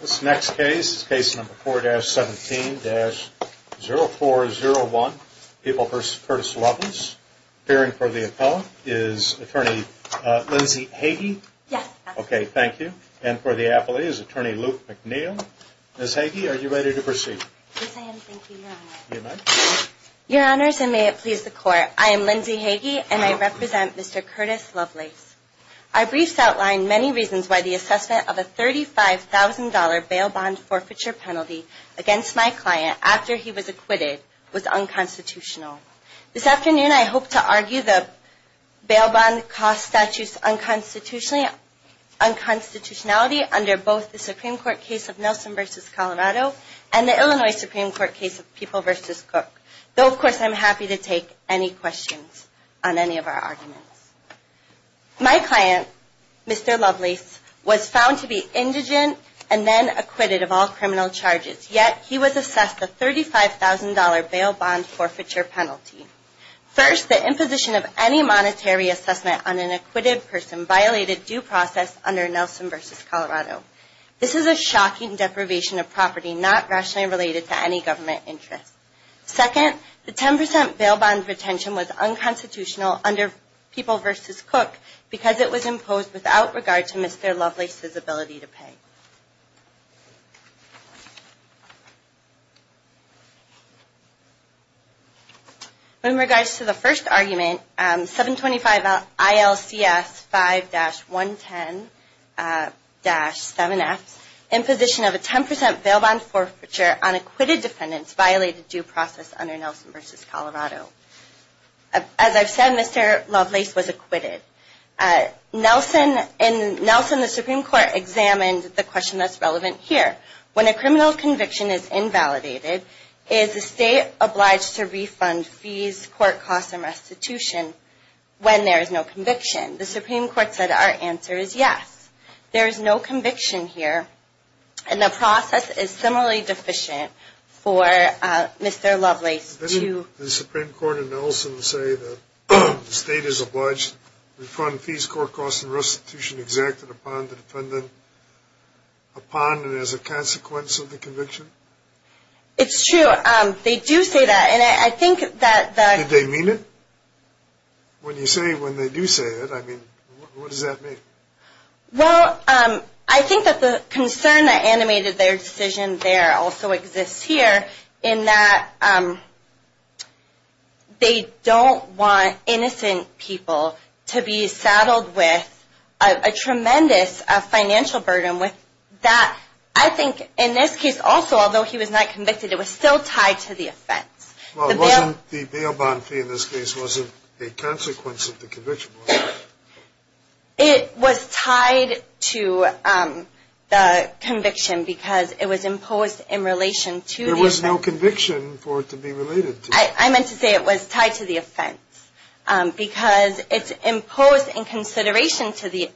This next case is case number 4-17-0401, People v. Curtis Lovelace. Appearing for the appellant is attorney Lindsay Hagey. Yes. Okay, thank you. And for the appellee is attorney Luke McNeil. Ms. Hagey, are you ready to proceed? Yes, I am. Thank you, Your Honor. You may. Your Honors, and may it please the Court, I am Lindsay Hagey, and I represent Mr. Curtis Lovelace. I briefly outlined many reasons why the assessment of a $35,000 bail bond forfeiture penalty against my client after he was acquitted was unconstitutional. This afternoon, I hope to argue the bail bond cost statute's unconstitutionality under both the Supreme Court case of Nelson v. Colorado and the Illinois Supreme Court case of People v. Cook. Though, of course, I'm happy to take any questions on any of our arguments. My client, Mr. Lovelace, was found to be indigent and then acquitted of all criminal charges, yet he was assessed a $35,000 bail bond forfeiture penalty. First, the imposition of any monetary assessment on an acquitted person violated due process under Nelson v. Colorado. This is a shocking deprivation of property not rationally related to any government interest. Second, the 10% bail bond retention was unconstitutional under People v. Cook because it was imposed without regard to Mr. Lovelace's ability to pay. In regards to the first argument, 725 ILCS 5-110-7F, imposition of a 10% bail bond forfeiture on acquitted defendants violated due process under Nelson v. Colorado. As I've said, Mr. Lovelace was acquitted. In Nelson, the Supreme Court examined the question that's relevant here. When a criminal conviction is invalidated, is the state obliged to refund fees, court costs, and restitution when there is no conviction? The Supreme Court said our answer is yes. There is no conviction here, and the process is similarly deficient for Mr. Lovelace. Does the Supreme Court in Nelson say that the state is obliged to refund fees, court costs, and restitution exacted upon the defendant upon and as a consequence of the conviction? It's true. They do say that. Did they mean it? When you say, when they do say it, I mean, what does that mean? Well, I think that the concern that animated their decision there also exists here in that they don't want innocent people to be saddled with a tremendous financial burden with that. I think in this case also, although he was not convicted, it was still tied to the offense. Well, wasn't the bail bond fee in this case, wasn't a consequence of the conviction? It was tied to the conviction because it was imposed in relation to the offense. There was no conviction for it to be related to. I meant to say it was tied to the offense because it's imposed in consideration to the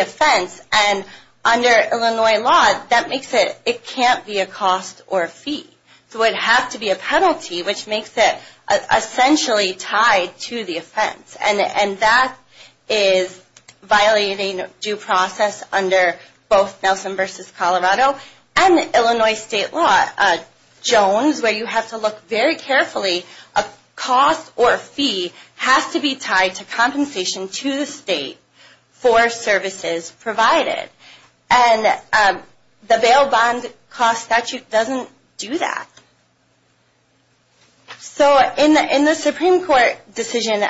offense, and under Illinois law, that makes it, it can't be a cost or a fee. It would have to be a penalty, which makes it essentially tied to the offense. And that is violating due process under both Nelson v. Colorado and Illinois state law. Jones, where you have to look very carefully, a cost or a fee has to be tied to compensation to the state for services provided. And the bail bond cost statute doesn't do that. So in the Supreme Court decision,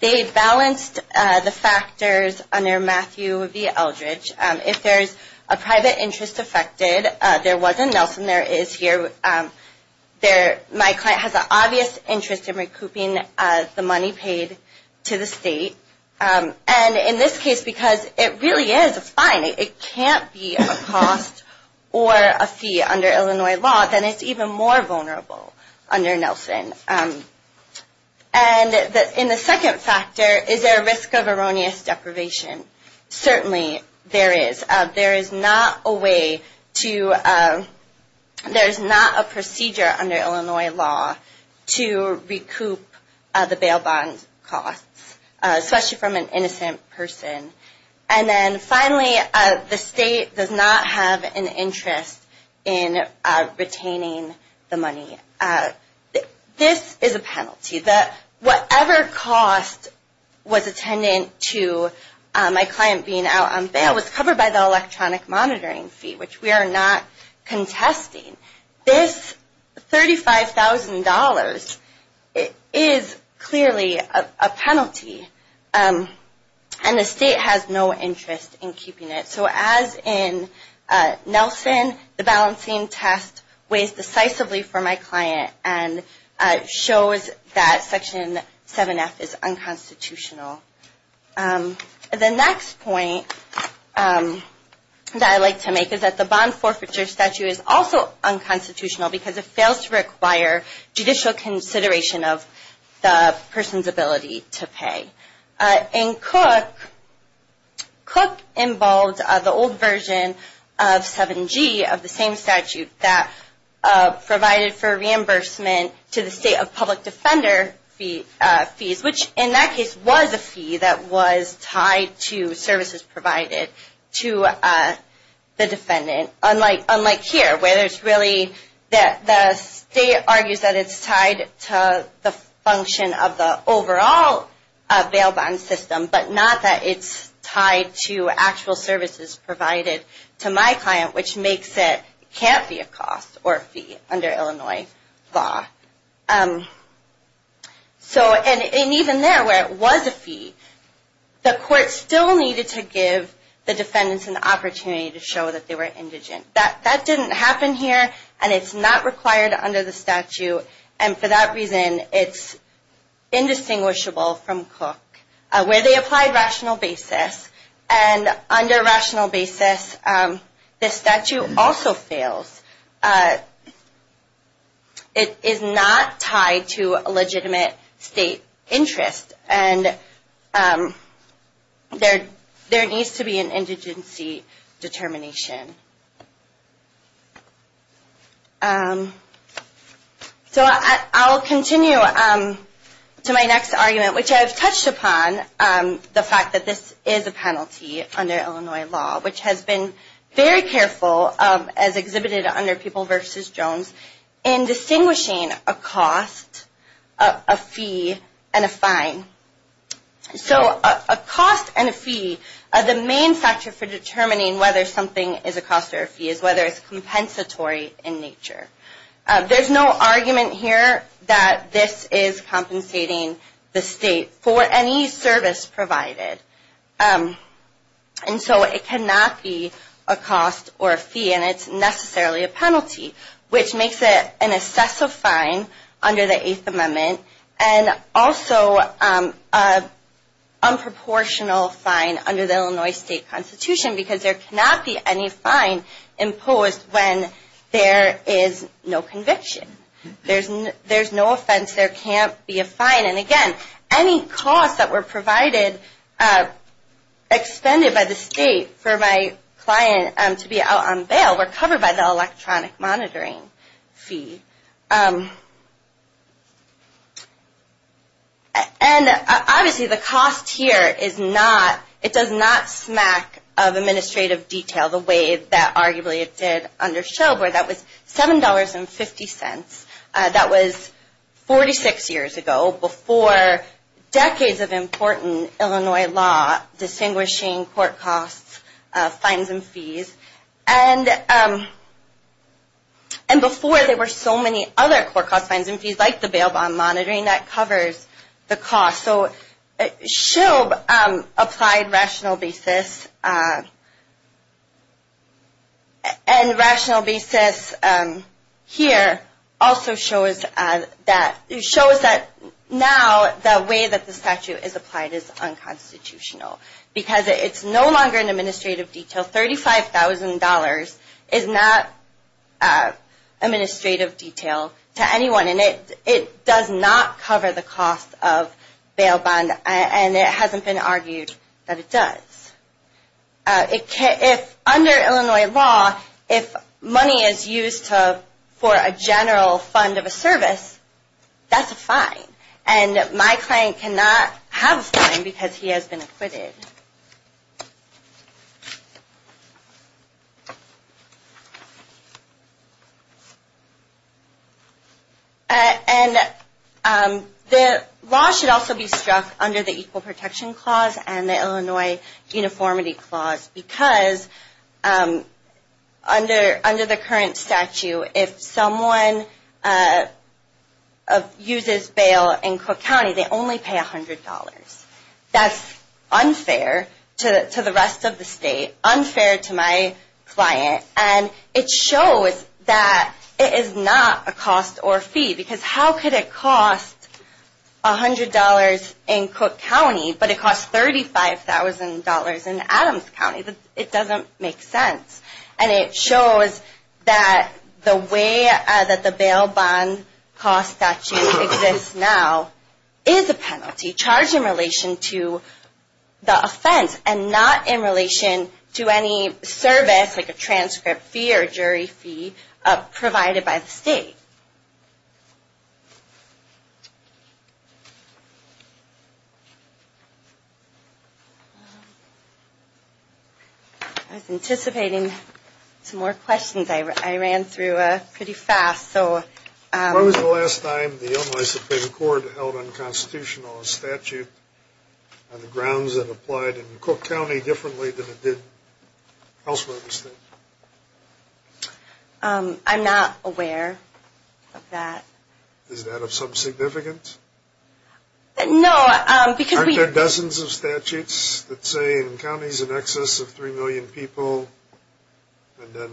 they balanced the factors under Matthew v. Eldridge. If there's a private interest affected, there wasn't. Nelson there is here. My client has an obvious interest in recouping the money paid to the state. And in this case, because it really is a fine, it can't be a cost or a fee under Illinois law, then it's even more vulnerable under Nelson. And in the second factor, is there a risk of erroneous deprivation? Certainly there is. There is not a way to, there's not a procedure under Illinois law to recoup the bail bond costs. Especially from an innocent person. And then finally, the state does not have an interest in retaining the money. This is a penalty. Whatever cost was attendant to my client being out on bail was covered by the electronic monitoring fee, which we are not contesting. This $35,000 is clearly a penalty. And the state has no interest in keeping it. So as in Nelson, the balancing test weighs decisively for my client and shows that Section 7F is unconstitutional. The next point that I'd like to make is that the bond forfeiture statute is also unconstitutional because it fails to require judicial consideration of the person's ability to pay. And Cook involved the old version of 7G of the same statute that provided for reimbursement to the state of public defender fees, which in that case was a fee that was tied to services provided to the defendant. Unlike here, where the state argues that it's tied to the function of the overall bail bond system, but not that it's tied to actual services provided to my client, which makes it can't be a cost or fee under Illinois law. And even there, where it was a fee, the court still needed to give the defendants an opportunity to show that they were indigent. That didn't happen here, and it's not required under the statute. And for that reason, it's indistinguishable from Cook, where they applied rational basis. And under rational basis, this statute also fails. It is not tied to a legitimate state interest, and there needs to be an indigency determination. So I'll continue to my next argument, which I've touched upon the fact that this is a penalty under Illinois law, which has been very careful, as exhibited under People v. Jones, in distinguishing a cost, a fee, and a fine. So a cost and a fee, the main factor for determining whether something is a cost or a fee is whether it's compensatory in nature. There's no argument here that this is compensating the state for any service provided. And so it cannot be a cost or a fee, and it's necessarily a penalty, which makes it an excessive fine under the Eighth Amendment, and also an unproportional fine under the Illinois state constitution, because there cannot be any fine imposed when there is no conviction. There's no offense. There can't be a fine. And again, any costs that were provided, expended by the state for my client to be out on bail, were covered by the electronic monitoring fee. And obviously the cost here is not, it does not smack of administrative detail the way that arguably it did under Show Boy. That was $7.50. That was 46 years ago, before decades of important Illinois law distinguishing court costs, fines, and fees. And before there were so many other court costs, fines, and fees, like the bail bond monitoring, that covers the cost. So Shilb applied rational basis. And rational basis here also shows that now the way that the statute is applied is unconstitutional, because it's no longer an administrative detail. $35,000 is not administrative detail to anyone, and it does not cover the cost of bail bond, and it hasn't been argued that it does. Under Illinois law, if money is used for a general fund of a service, that's a fine. And my client cannot have a fine because he has been acquitted. And the law should also be struck under the Equal Protection Clause and the Illinois Uniformity Clause, because under the current statute, if someone uses bail in Cook County, they only pay $100. That's unfair to the rest of the state, unfair to my client. And it shows that it is not a cost or fee, because how could it cost $100 in Cook County, but it costs $35,000 in Adams County. It doesn't make sense. And it shows that the way that the bail bond cost statute exists now is a penalty charged in relation to the offense, and not in relation to any service, like a transcript fee or a jury fee, provided by the state. I was anticipating some more questions. I ran through pretty fast. When was the last time the Illinois Supreme Court held unconstitutional a statute on the grounds that applied in Cook County differently than it did elsewhere in the state? I'm not aware of that. Is that of some significance? No. Aren't there dozens of statutes that say in counties in excess of 3 million people and then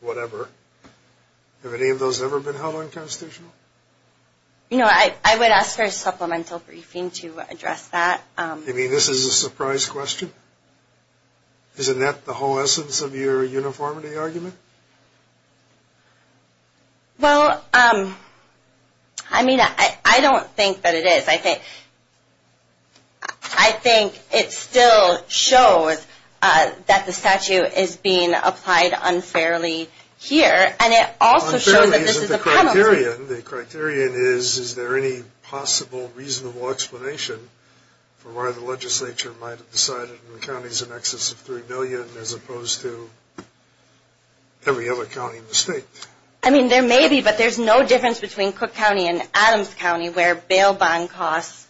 whatever? Have any of those ever been held unconstitutional? You know, I would ask for a supplemental briefing to address that. You mean this is a surprise question? Isn't that the whole essence of your uniformity argument? Well, I mean, I don't think that it is. I think it still shows that the statute is being applied unfairly here. And it also shows that this is a penalty. Unfairly isn't the criterion. The criterion is, is there any possible reasonable explanation for why the legislature might have decided in counties in excess of 3 million as opposed to every other county in the state? I mean, there may be, but there's no difference between Cook County and Adams County where bail bond costs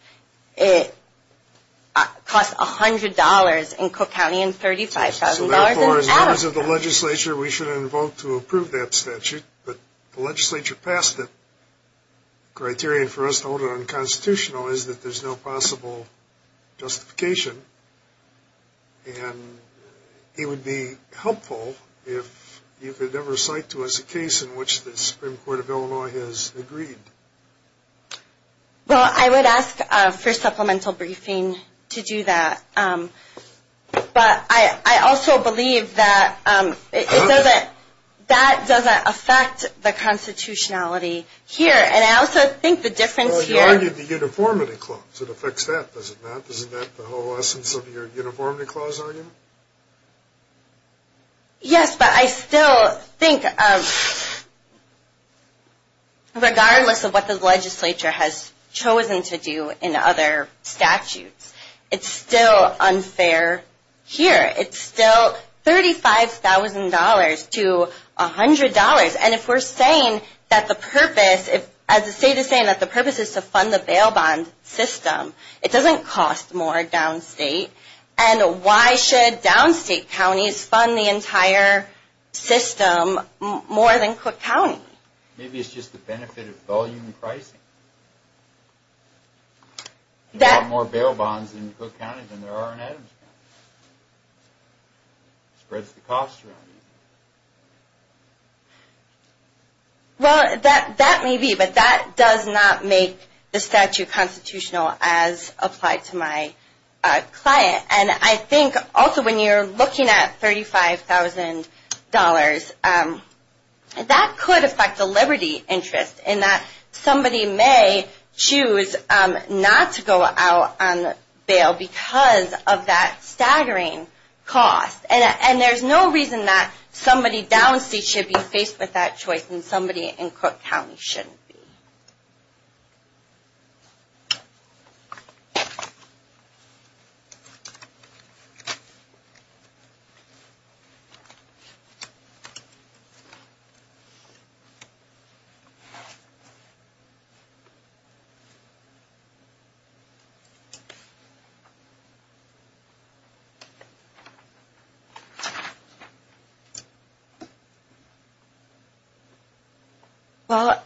cost $100 in Cook County and $35,000 in Adams County. So, therefore, as members of the legislature, we should vote to approve that statute. But the legislature passed it. The criterion for us to hold it unconstitutional is that there's no possible justification. And it would be helpful if you could ever cite to us a case in which the Supreme Court of Illinois has agreed. Well, I would ask for a supplemental briefing to do that. But I also believe that that doesn't affect the constitutionality here. And I also think the difference here Well, you argued the uniformity clause. It affects that, does it not? The whole essence of your uniformity clause argument? Yes, but I still think, regardless of what the legislature has chosen to do in other statutes, it's still unfair here. It's still $35,000 to $100. And if we're saying that the purpose, as the state is saying that the purpose is to fund the bail bond system, it doesn't cost more downstate. And why should downstate counties fund the entire system more than Cook County? Maybe it's just the benefit of volume pricing. There are more bail bonds in Cook County than there are in Adams County. It spreads the cost around. Well, that may be, but that does not make the statute constitutional as applied to my client. And I think also when you're looking at $35,000, that could affect the liberty interest in that somebody may choose not to go out on bail because of that staggering cost. And there's no reason that somebody downstate should be faced with that choice and somebody in Cook County shouldn't be. Well,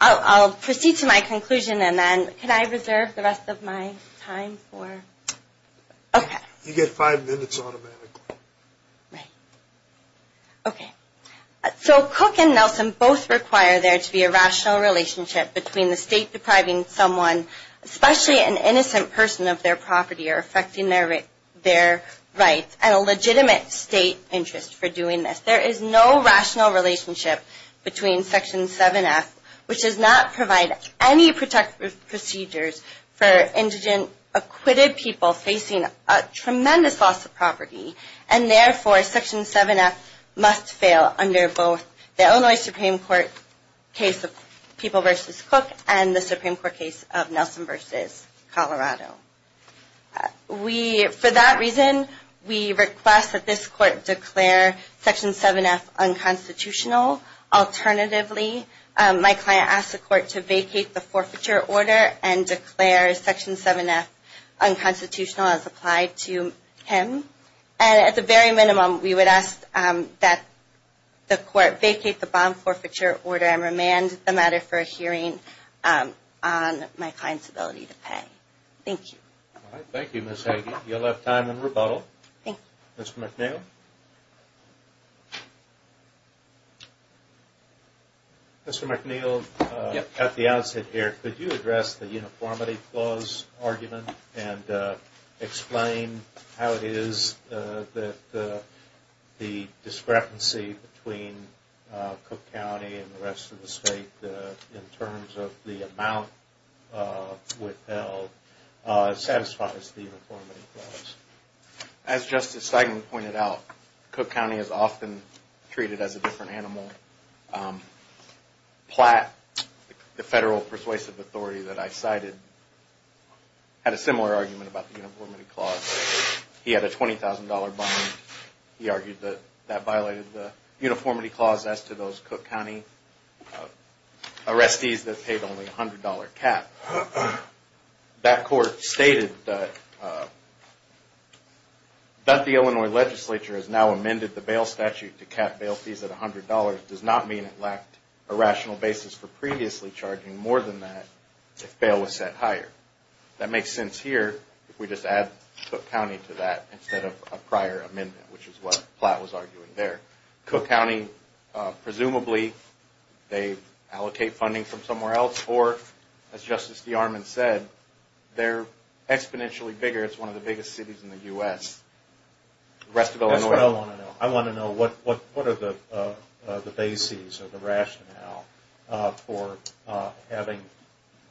I'll proceed to my conclusion, and then can I reserve the rest of my time for, okay. You get five minutes automatically. Right. Okay. So Cook and Nelson both require there to be a rational relationship between the state depriving someone, especially an innocent person of their property or affecting their rights, and a legitimate state interest for doing this. There is no rational relationship between Section 7F, which does not provide any protective procedures for indigent, acquitted people facing a tremendous loss of property, and therefore Section 7F must fail under both the Illinois Supreme Court case of People v. Cook and the Supreme Court case of Nelson v. Colorado. For that reason, we request that this court declare Section 7F unconstitutional. Alternatively, my client asked the court to vacate the forfeiture order and declare Section 7F unconstitutional as applied to him. And at the very minimum, we would ask that the court vacate the bond forfeiture order and remand the matter for a hearing on my client's ability to pay. Thank you. All right. Thank you, Ms. Hagey. You'll have time in rebuttal. Thank you. Mr. McNeil? Mr. McNeil, at the outset here, could you address the uniformity clause argument and explain how it is that the discrepancy between Cook County and the rest of the state in terms of the amount withheld satisfies the uniformity clause? As Justice Steigman pointed out, Cook County is often treated as a different animal. Platt, the federal persuasive authority that I cited, had a similar argument about the uniformity clause. He had a $20,000 bond. He argued that that violated the uniformity clause as to those Cook County arrestees that paid only a $100 cap. That court stated that the Illinois legislature has now amended the bail statute to cap bail fees at $100 does not mean it lacked a rational basis for previously charging more than that if bail was set higher. That makes sense here if we just add Cook County to that instead of a prior amendment, which is what Platt was arguing there. Cook County, presumably, they allocate funding from somewhere else, or as Justice DeArmond said, they're exponentially bigger. It's one of the biggest cities in the U.S. That's what I want to know. I want to know what are the bases or the rationale for having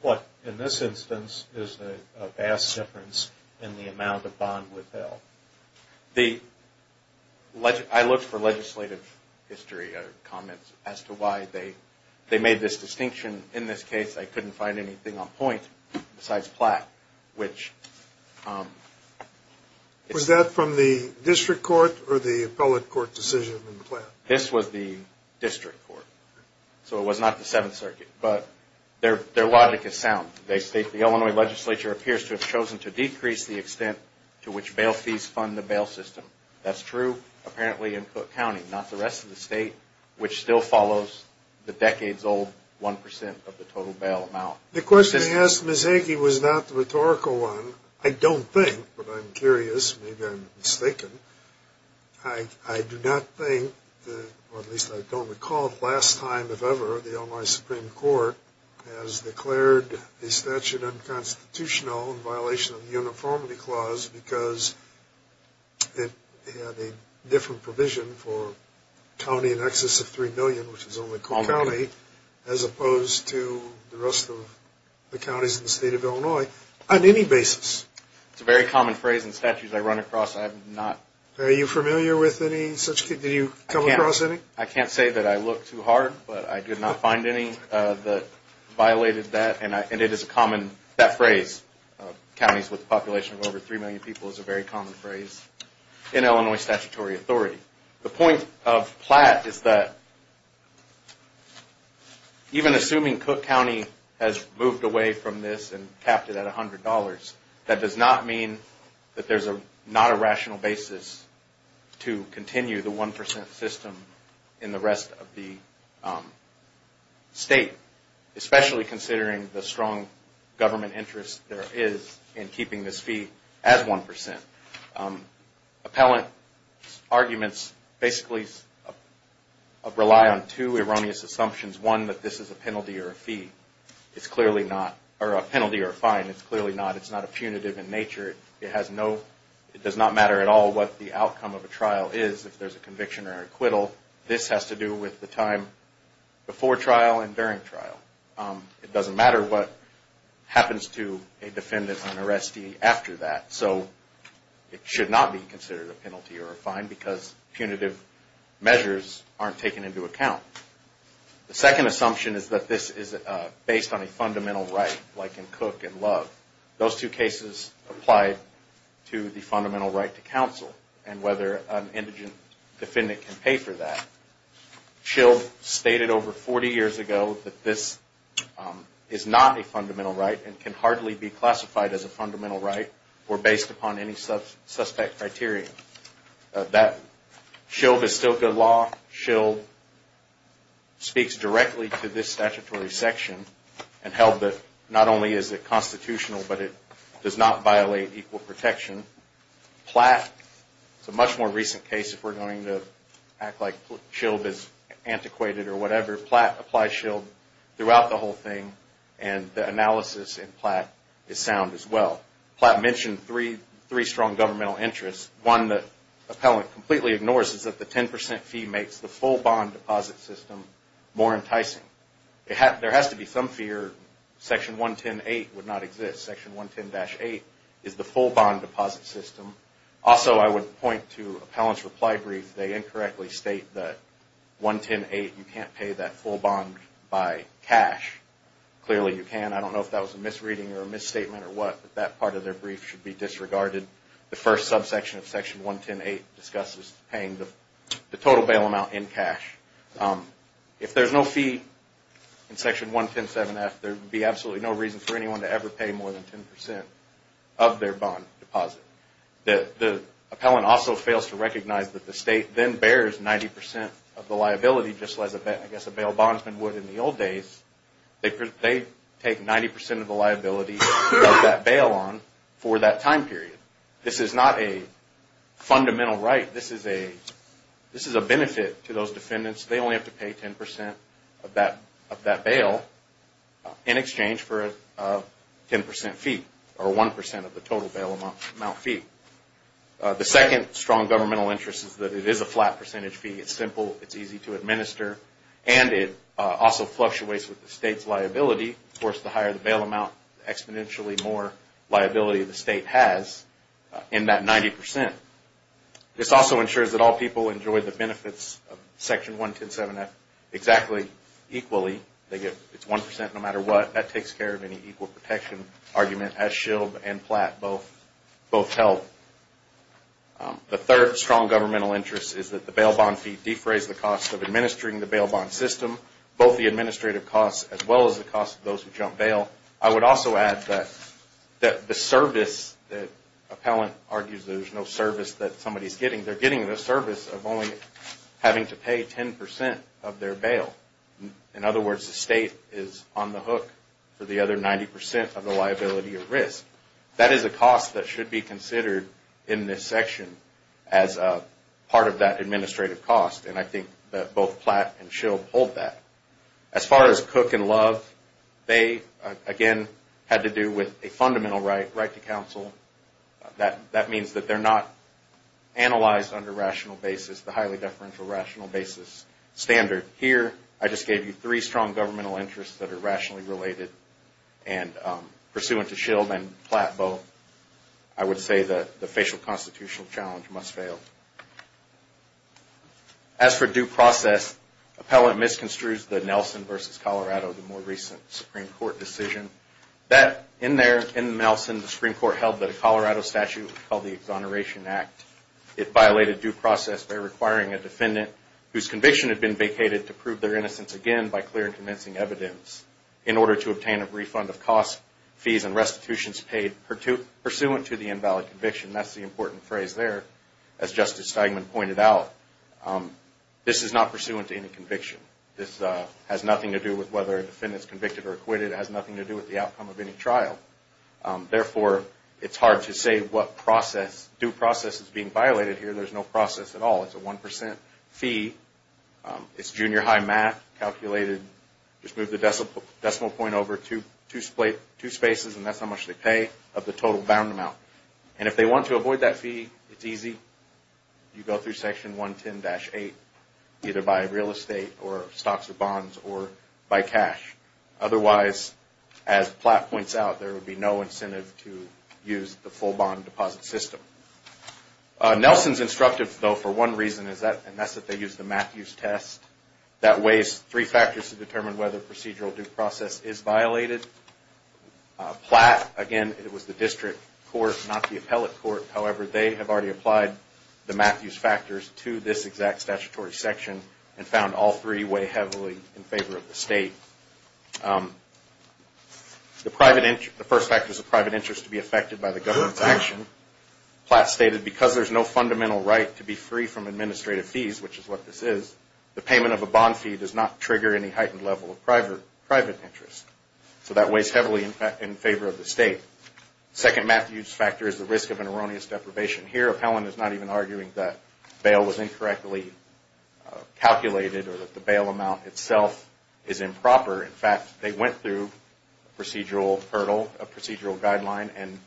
what, in this instance, is a vast difference in the amount of bond withheld. I looked for legislative history comments as to why they made this distinction. In this case, I couldn't find anything on point besides Platt. Was that from the district court or the appellate court decision in Platt? This was the district court, so it was not the Seventh Circuit. But their logic is sound. They state the Illinois legislature appears to have chosen to decrease the extent to which bail fees fund the bail system. That's true, apparently, in Cook County, not the rest of the state, which still follows the decades-old 1% of the total bail amount. The question you asked, Ms. Hagey, was not the rhetorical one. I don't think, but I'm curious. Maybe I'm mistaken. I do not think, or at least I don't recall it the last time, if ever, the Illinois Supreme Court has declared a statute unconstitutional in violation of the Uniformity Clause because it had a different provision for a county in excess of three million, which is only Cook County, as opposed to the rest of the counties in the state of Illinois, on any basis. It's a very common phrase in statutes I run across. Are you familiar with any such case? Did you come across any? I can't say that I looked too hard, but I did not find any that violated that. And it is a common phrase. Counties with a population of over three million people is a very common phrase in Illinois statutory authority. The point of Platt is that even assuming Cook County has moved away from this and capped it at $100, that does not mean that there's not a rational basis to continue the 1% system in the rest of the state, especially considering the strong government interest there is in keeping this fee as 1%. Appellant arguments basically rely on two erroneous assumptions. One, that this is a penalty or a fine. It's clearly not. It's not a punitive in nature. It does not matter at all what the outcome of a trial is, if there's a conviction or an acquittal. This has to do with the time before trial and during trial. It doesn't matter what happens to a defendant or an arrestee after that. So it should not be considered a penalty or a fine because punitive measures aren't taken into account. The second assumption is that this is based on a fundamental right, like in Cook and Love. Those two cases apply to the fundamental right to counsel and whether an indigent defendant can pay for that. Schill stated over 40 years ago that this is not a fundamental right and can hardly be classified as a fundamental right or based upon any suspect criteria. Schill bestowed good law. Schill speaks directly to this statutory section and held that not only is it constitutional, but it does not violate equal protection. Platt, it's a much more recent case if we're going to act like Schill is antiquated or whatever. Platt applies Schill throughout the whole thing and the analysis in Platt is sound as well. Platt mentioned three strong governmental interests. One that Appellant completely ignores is that the 10% fee makes the full bond deposit system more enticing. There has to be some fear Section 110.8 would not exist. Section 110-8 is the full bond deposit system. Also, I would point to Appellant's reply brief. They incorrectly state that 110.8 you can't pay that full bond by cash. Clearly you can. I don't know if that was a misreading or a misstatement or what, but that part of their brief should be disregarded. The first subsection of Section 110.8 discusses paying the total bail amount in cash. If there's no fee in Section 110.7-F, there would be absolutely no reason for anyone to ever pay more than 10% of their bond deposit. The Appellant also fails to recognize that the State then bears 90% of the liability just as a bail bondsman would in the old days. They take 90% of the liability of that bail on for that time period. This is not a fundamental right. This is a benefit to those defendants. They only have to pay 10% of that bail in exchange for a 10% fee or 1% of the total bail amount fee. The second strong governmental interest is that it is a flat percentage fee. It's simple. It's easy to administer, and it also fluctuates with the State's liability. Of course, the higher the bail amount, the exponentially more liability the State has in that 90%. This also ensures that all people enjoy the benefits of Section 110.7-F exactly equally. It's 1% no matter what. That takes care of any equal protection argument as Shield and Platt both held. The third strong governmental interest is that the bail bond fee defrays the cost of administering the bail bond system, both the administrative costs as well as the cost of those who jump bail. I would also add that the service that Appellant argues there's no service that somebody is getting, they're getting the service of only having to pay 10% of their bail. In other words, the State is on the hook for the other 90% of the liability or risk. That is a cost that should be considered in this section as part of that administrative cost, and I think that both Platt and Shield hold that. As far as Cook and Love, they, again, had to do with a fundamental right, right to counsel. That means that they're not analyzed under rational basis, the highly deferential rational basis standard. Here, I just gave you three strong governmental interests that are rationally related, and pursuant to Shield and Platt both, I would say that the facial constitutional challenge must fail. As for due process, Appellant misconstrues the Nelson v. Colorado, the more recent Supreme Court decision. In there, in Nelson, the Supreme Court held that a Colorado statute called the Exoneration Act. It violated due process by requiring a defendant whose conviction had been vacated to prove their innocence again by clear and convincing evidence in order to obtain a refund of costs, fees, and restitutions paid pursuant to the invalid conviction. That's the important phrase there. As Justice Steinman pointed out, this is not pursuant to any conviction. This has nothing to do with whether a defendant is convicted or acquitted. It has nothing to do with the outcome of any trial. Therefore, it's hard to say what due process is being violated here. There's no process at all. It's a 1% fee. It's junior high math calculated. Just move the decimal point over two spaces, and that's how much they pay of the total bound amount. And if they want to avoid that fee, it's easy. You go through Section 110-8 either by real estate or stocks or bonds or by cash. Otherwise, as Platt points out, there would be no incentive to use the full bond deposit system. Nelson's instructive, though, for one reason, and that's that they use the Matthews test. That weighs three factors to determine whether procedural due process is violated. Platt, again, it was the district court, not the appellate court. However, they have already applied the Matthews factors to this exact statutory section and found all three weigh heavily in favor of the state. The first factor is the private interest to be affected by the government's action. Platt stated, because there's no fundamental right to be free from administrative fees, which is what this is, the payment of a bond fee does not trigger any heightened level of private interest. So that weighs heavily in favor of the state. The second Matthews factor is the risk of an erroneous deprivation. Here, Appellant is not even arguing that bail was incorrectly calculated or that the bail amount itself is improper. In fact, they went through a procedural hurdle, a procedural guideline, and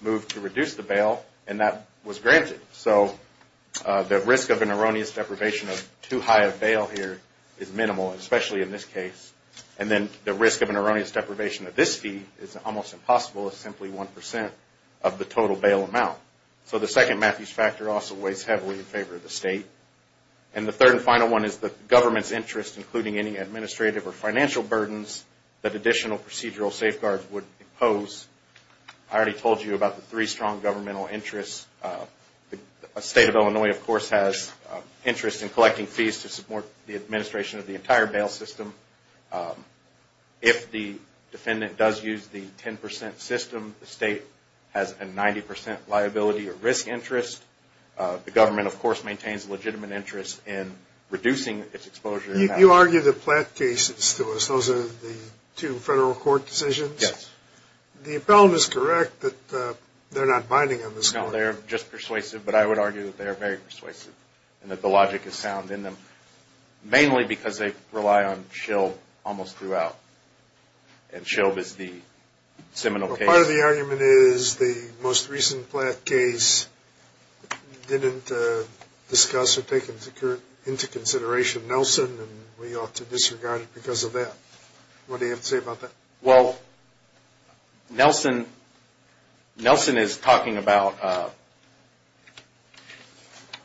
moved to reduce the bail, and that was granted. So the risk of an erroneous deprivation of too high a bail here is minimal, especially in this case. And then the risk of an erroneous deprivation of this fee is almost impossible as simply 1% of the total bail amount. So the second Matthews factor also weighs heavily in favor of the state. And the third and final one is the government's interest, including any administrative or financial burdens that additional procedural safeguards would impose. I already told you about the three strong governmental interests. The state of Illinois, of course, has interest in collecting fees to support the administration of the entire bail system. If the defendant does use the 10% system, the state has a 90% liability or risk interest. The government, of course, maintains a legitimate interest in reducing its exposure. You argue the Platt cases to us. Those are the two federal court decisions. Yes. The Appellant is correct that they're not binding on this one. No, they're just persuasive, but I would argue that they are very persuasive and that the logic is sound in them, mainly because they rely on Shilb almost throughout. And Shilb is the seminal case. Well, part of the argument is the most recent Platt case didn't discuss or take into consideration Nelson, and we ought to disregard it because of that. What do you have to say about that? Well, Nelson is talking about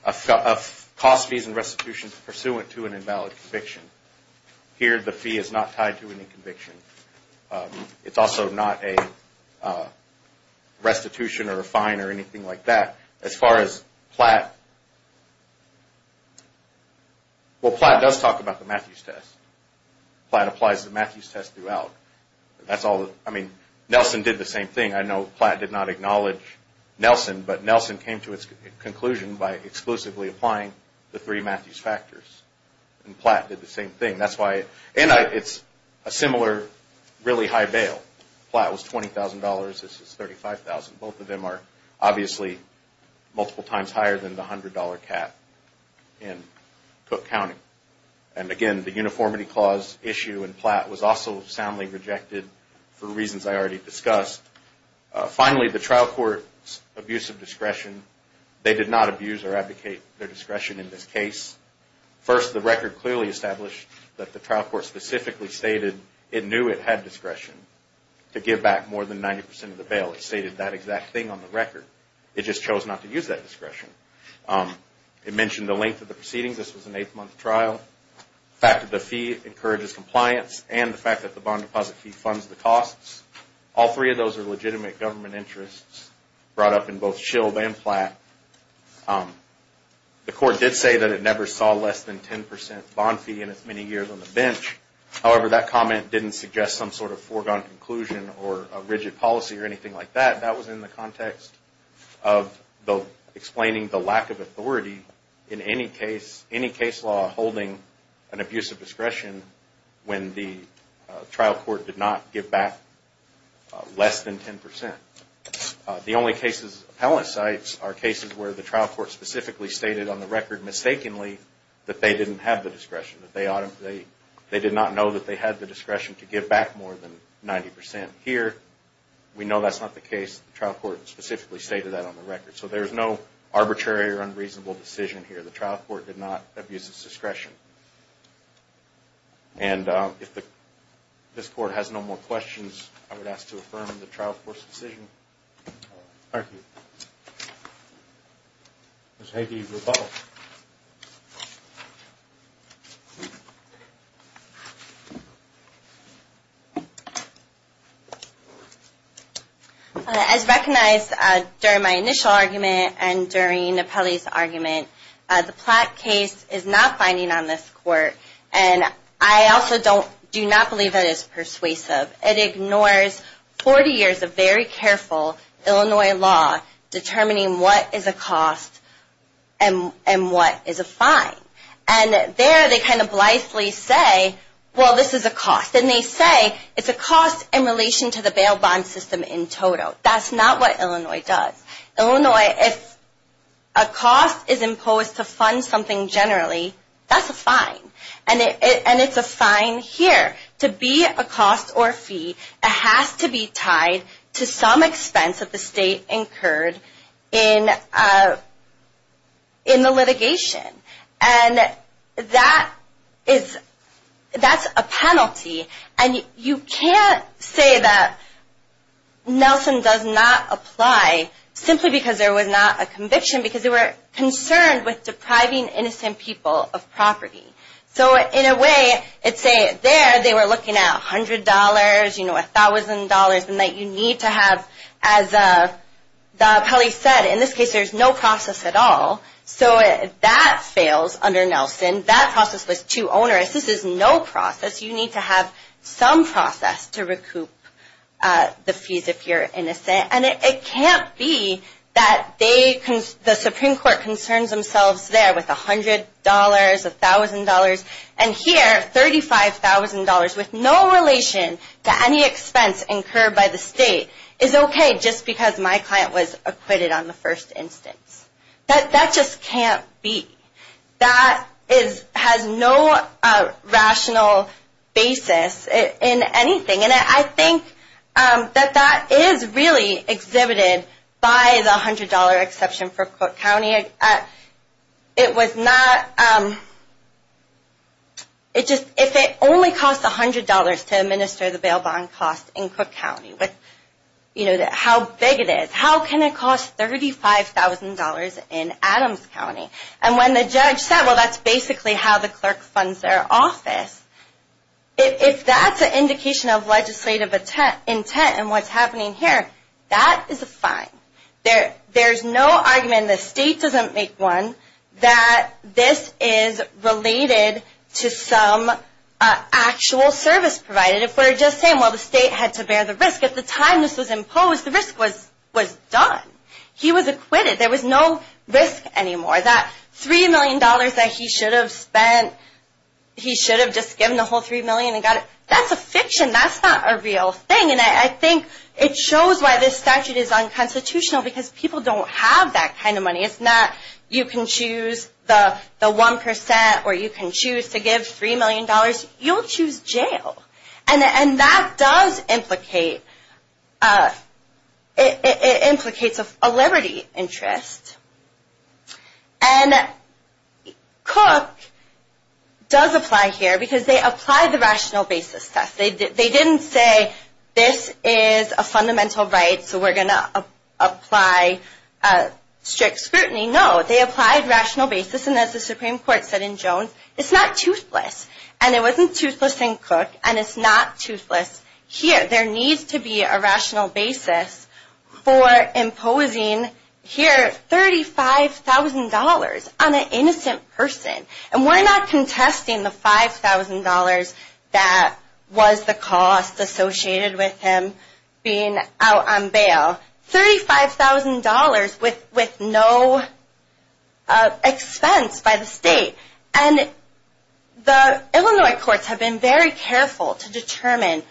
cost fees and restitutions pursuant to an invalid conviction. Here, the fee is not tied to any conviction. It's also not a restitution or a fine or anything like that. As far as Platt, well, Platt does talk about the Matthews test. Platt applies the Matthews test throughout. That's all. I mean, Nelson did the same thing. I know Platt did not acknowledge Nelson, but Nelson came to its conclusion by exclusively applying the three Matthews factors, and Platt did the same thing. That's why. And it's a similar really high bail. Platt was $20,000. This is $35,000. Both of them are obviously multiple times higher than the $100 cap in Cook County. And, again, the uniformity clause issue in Platt was also soundly rejected for reasons I already discussed. Finally, the trial court's abuse of discretion. They did not abuse or abdicate their discretion in this case. First, the record clearly established that the trial court specifically stated it knew it had discretion to give back more than 90% of the bail. It stated that exact thing on the record. It just chose not to use that discretion. It mentioned the length of the proceedings. This was an eight-month trial. The fact that the fee encourages compliance and the fact that the bond deposit fee funds the costs. All three of those are legitimate government interests brought up in both Shield and Platt. The court did say that it never saw less than 10% bond fee in its many years on the bench. However, that comment didn't suggest some sort of foregone conclusion or a rigid policy or anything like that. That was in the context of explaining the lack of authority in any case, any case law holding an abuse of discretion when the trial court did not give back less than 10%. The only cases, appellate sites, are cases where the trial court specifically stated on the record, mistakenly, that they didn't have the discretion. They did not know that they had the discretion to give back more than 90%. Here, we know that's not the case. The trial court specifically stated that on the record. So there's no arbitrary or unreasonable decision here. The trial court did not abuse its discretion. And if this court has no more questions, I would ask to affirm the trial court's decision. Thank you. Ms. Heigy, you're up. As recognized during my initial argument and during the appellee's argument, the Platt case is not binding on this court. And I also do not believe it is persuasive. It ignores 40 years of very careful Illinois law determining what is a cost and what is a fine. And there, they kind of blithely say, well, this is a cost. And they say it's a cost in relation to the bail bond system in total. That's not what Illinois does. Illinois, if a cost is imposed to fund something generally, that's a fine. And it's a fine here. To be a cost or fee, it has to be tied to some expense of the state incurred in the litigation. And that's a penalty. And you can't say that Nelson does not apply simply because there was not a conviction, because they were concerned with depriving innocent people of property. So in a way, it's there they were looking at $100, you know, $1,000, and that you need to have, as the appellee said, in this case there's no process at all. So that fails under Nelson. That process was too onerous. This is no process. You need to have some process to recoup the fees if you're innocent. And it can't be that the Supreme Court concerns themselves there with $100, $1,000, and here $35,000 with no relation to any expense incurred by the state is okay just because my client was acquitted on the first instance. That just can't be. That has no rational basis in anything. And I think that that is really exhibited by the $100 exception for Cook County. It was not – if it only costs $100 to administer the bail bond cost in Cook County, you know, how big it is, how can it cost $35,000 in Adams County? And when the judge said, well, that's basically how the clerk funds their office, if that's an indication of legislative intent and what's happening here, that is a fine. There's no argument, and the state doesn't make one, that this is related to some actual service provided. If we're just saying, well, the state had to bear the risk at the time this was imposed, the risk was done. He was acquitted. There was no risk anymore. That $3 million that he should have spent, he should have just given the whole $3 million and got it, that's a fiction. That's not a real thing. And I think it shows why this statute is unconstitutional, because people don't have that kind of money. It's not you can choose the 1% or you can choose to give $3 million. You'll choose jail. And that does implicate a liberty interest. And Cook does apply here because they applied the rational basis test. They didn't say this is a fundamental right, so we're going to apply strict scrutiny. No, they applied rational basis, and as the Supreme Court said in Jones, it's not toothless. And it wasn't toothless in Cook, and it's not toothless here. There needs to be a rational basis for imposing here $35,000 on an innocent person. And we're not contesting the $5,000 that was the cost associated with him being out on bail. $35,000 with no expense by the state. And the Illinois courts have been very careful to determine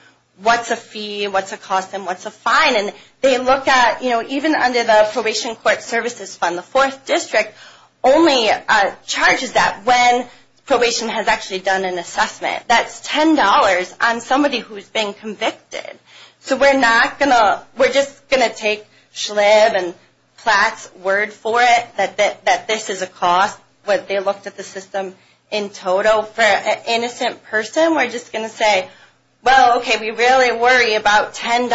what's a fee, what's a cost, and what's a fine. And they look at, you know, even under the Probation Court Services Fund, the 4th District only charges that when probation has actually done an assessment. That's $10 on somebody who's been convicted. So we're not going to, we're just going to take Schlibb and Platt's word for it that this is a cost. They looked at the system in total for an innocent person. We're just going to say, well, okay, we really worry about $10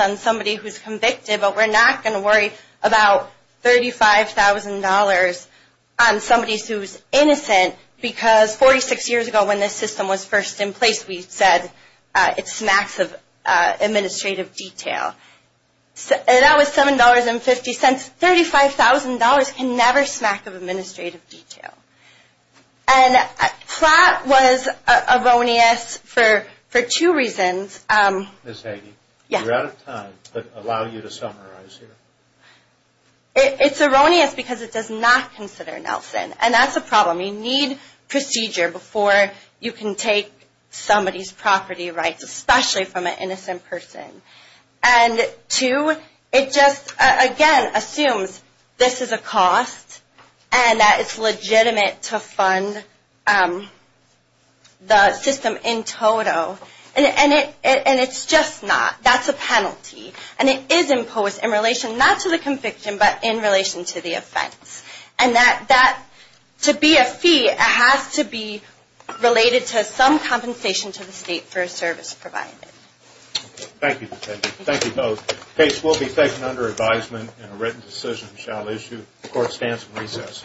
on somebody who's convicted, but we're not going to worry about $35,000 on somebody who's innocent because 46 years ago when this system was first in place, we said it smacks of administrative detail. That was $7.50. $35,000 can never smack of administrative detail. And Platt was erroneous for two reasons. Ms. Hagey, you're out of time, but allow you to summarize here. It's erroneous because it does not consider Nelson, and that's a problem. You need procedure before you can take somebody's property rights, especially from an innocent person. And two, it just, again, assumes this is a cost and that it's legitimate to fund the system in total. And it's just not. That's a penalty. And it is imposed in relation not to the conviction, but in relation to the offense. And that to be a fee, it has to be related to some compensation to the state for a service provided. Thank you, Ms. Hagey. Thank you both. The case will be taken under advisement, and a written decision shall issue. The court stands in recess.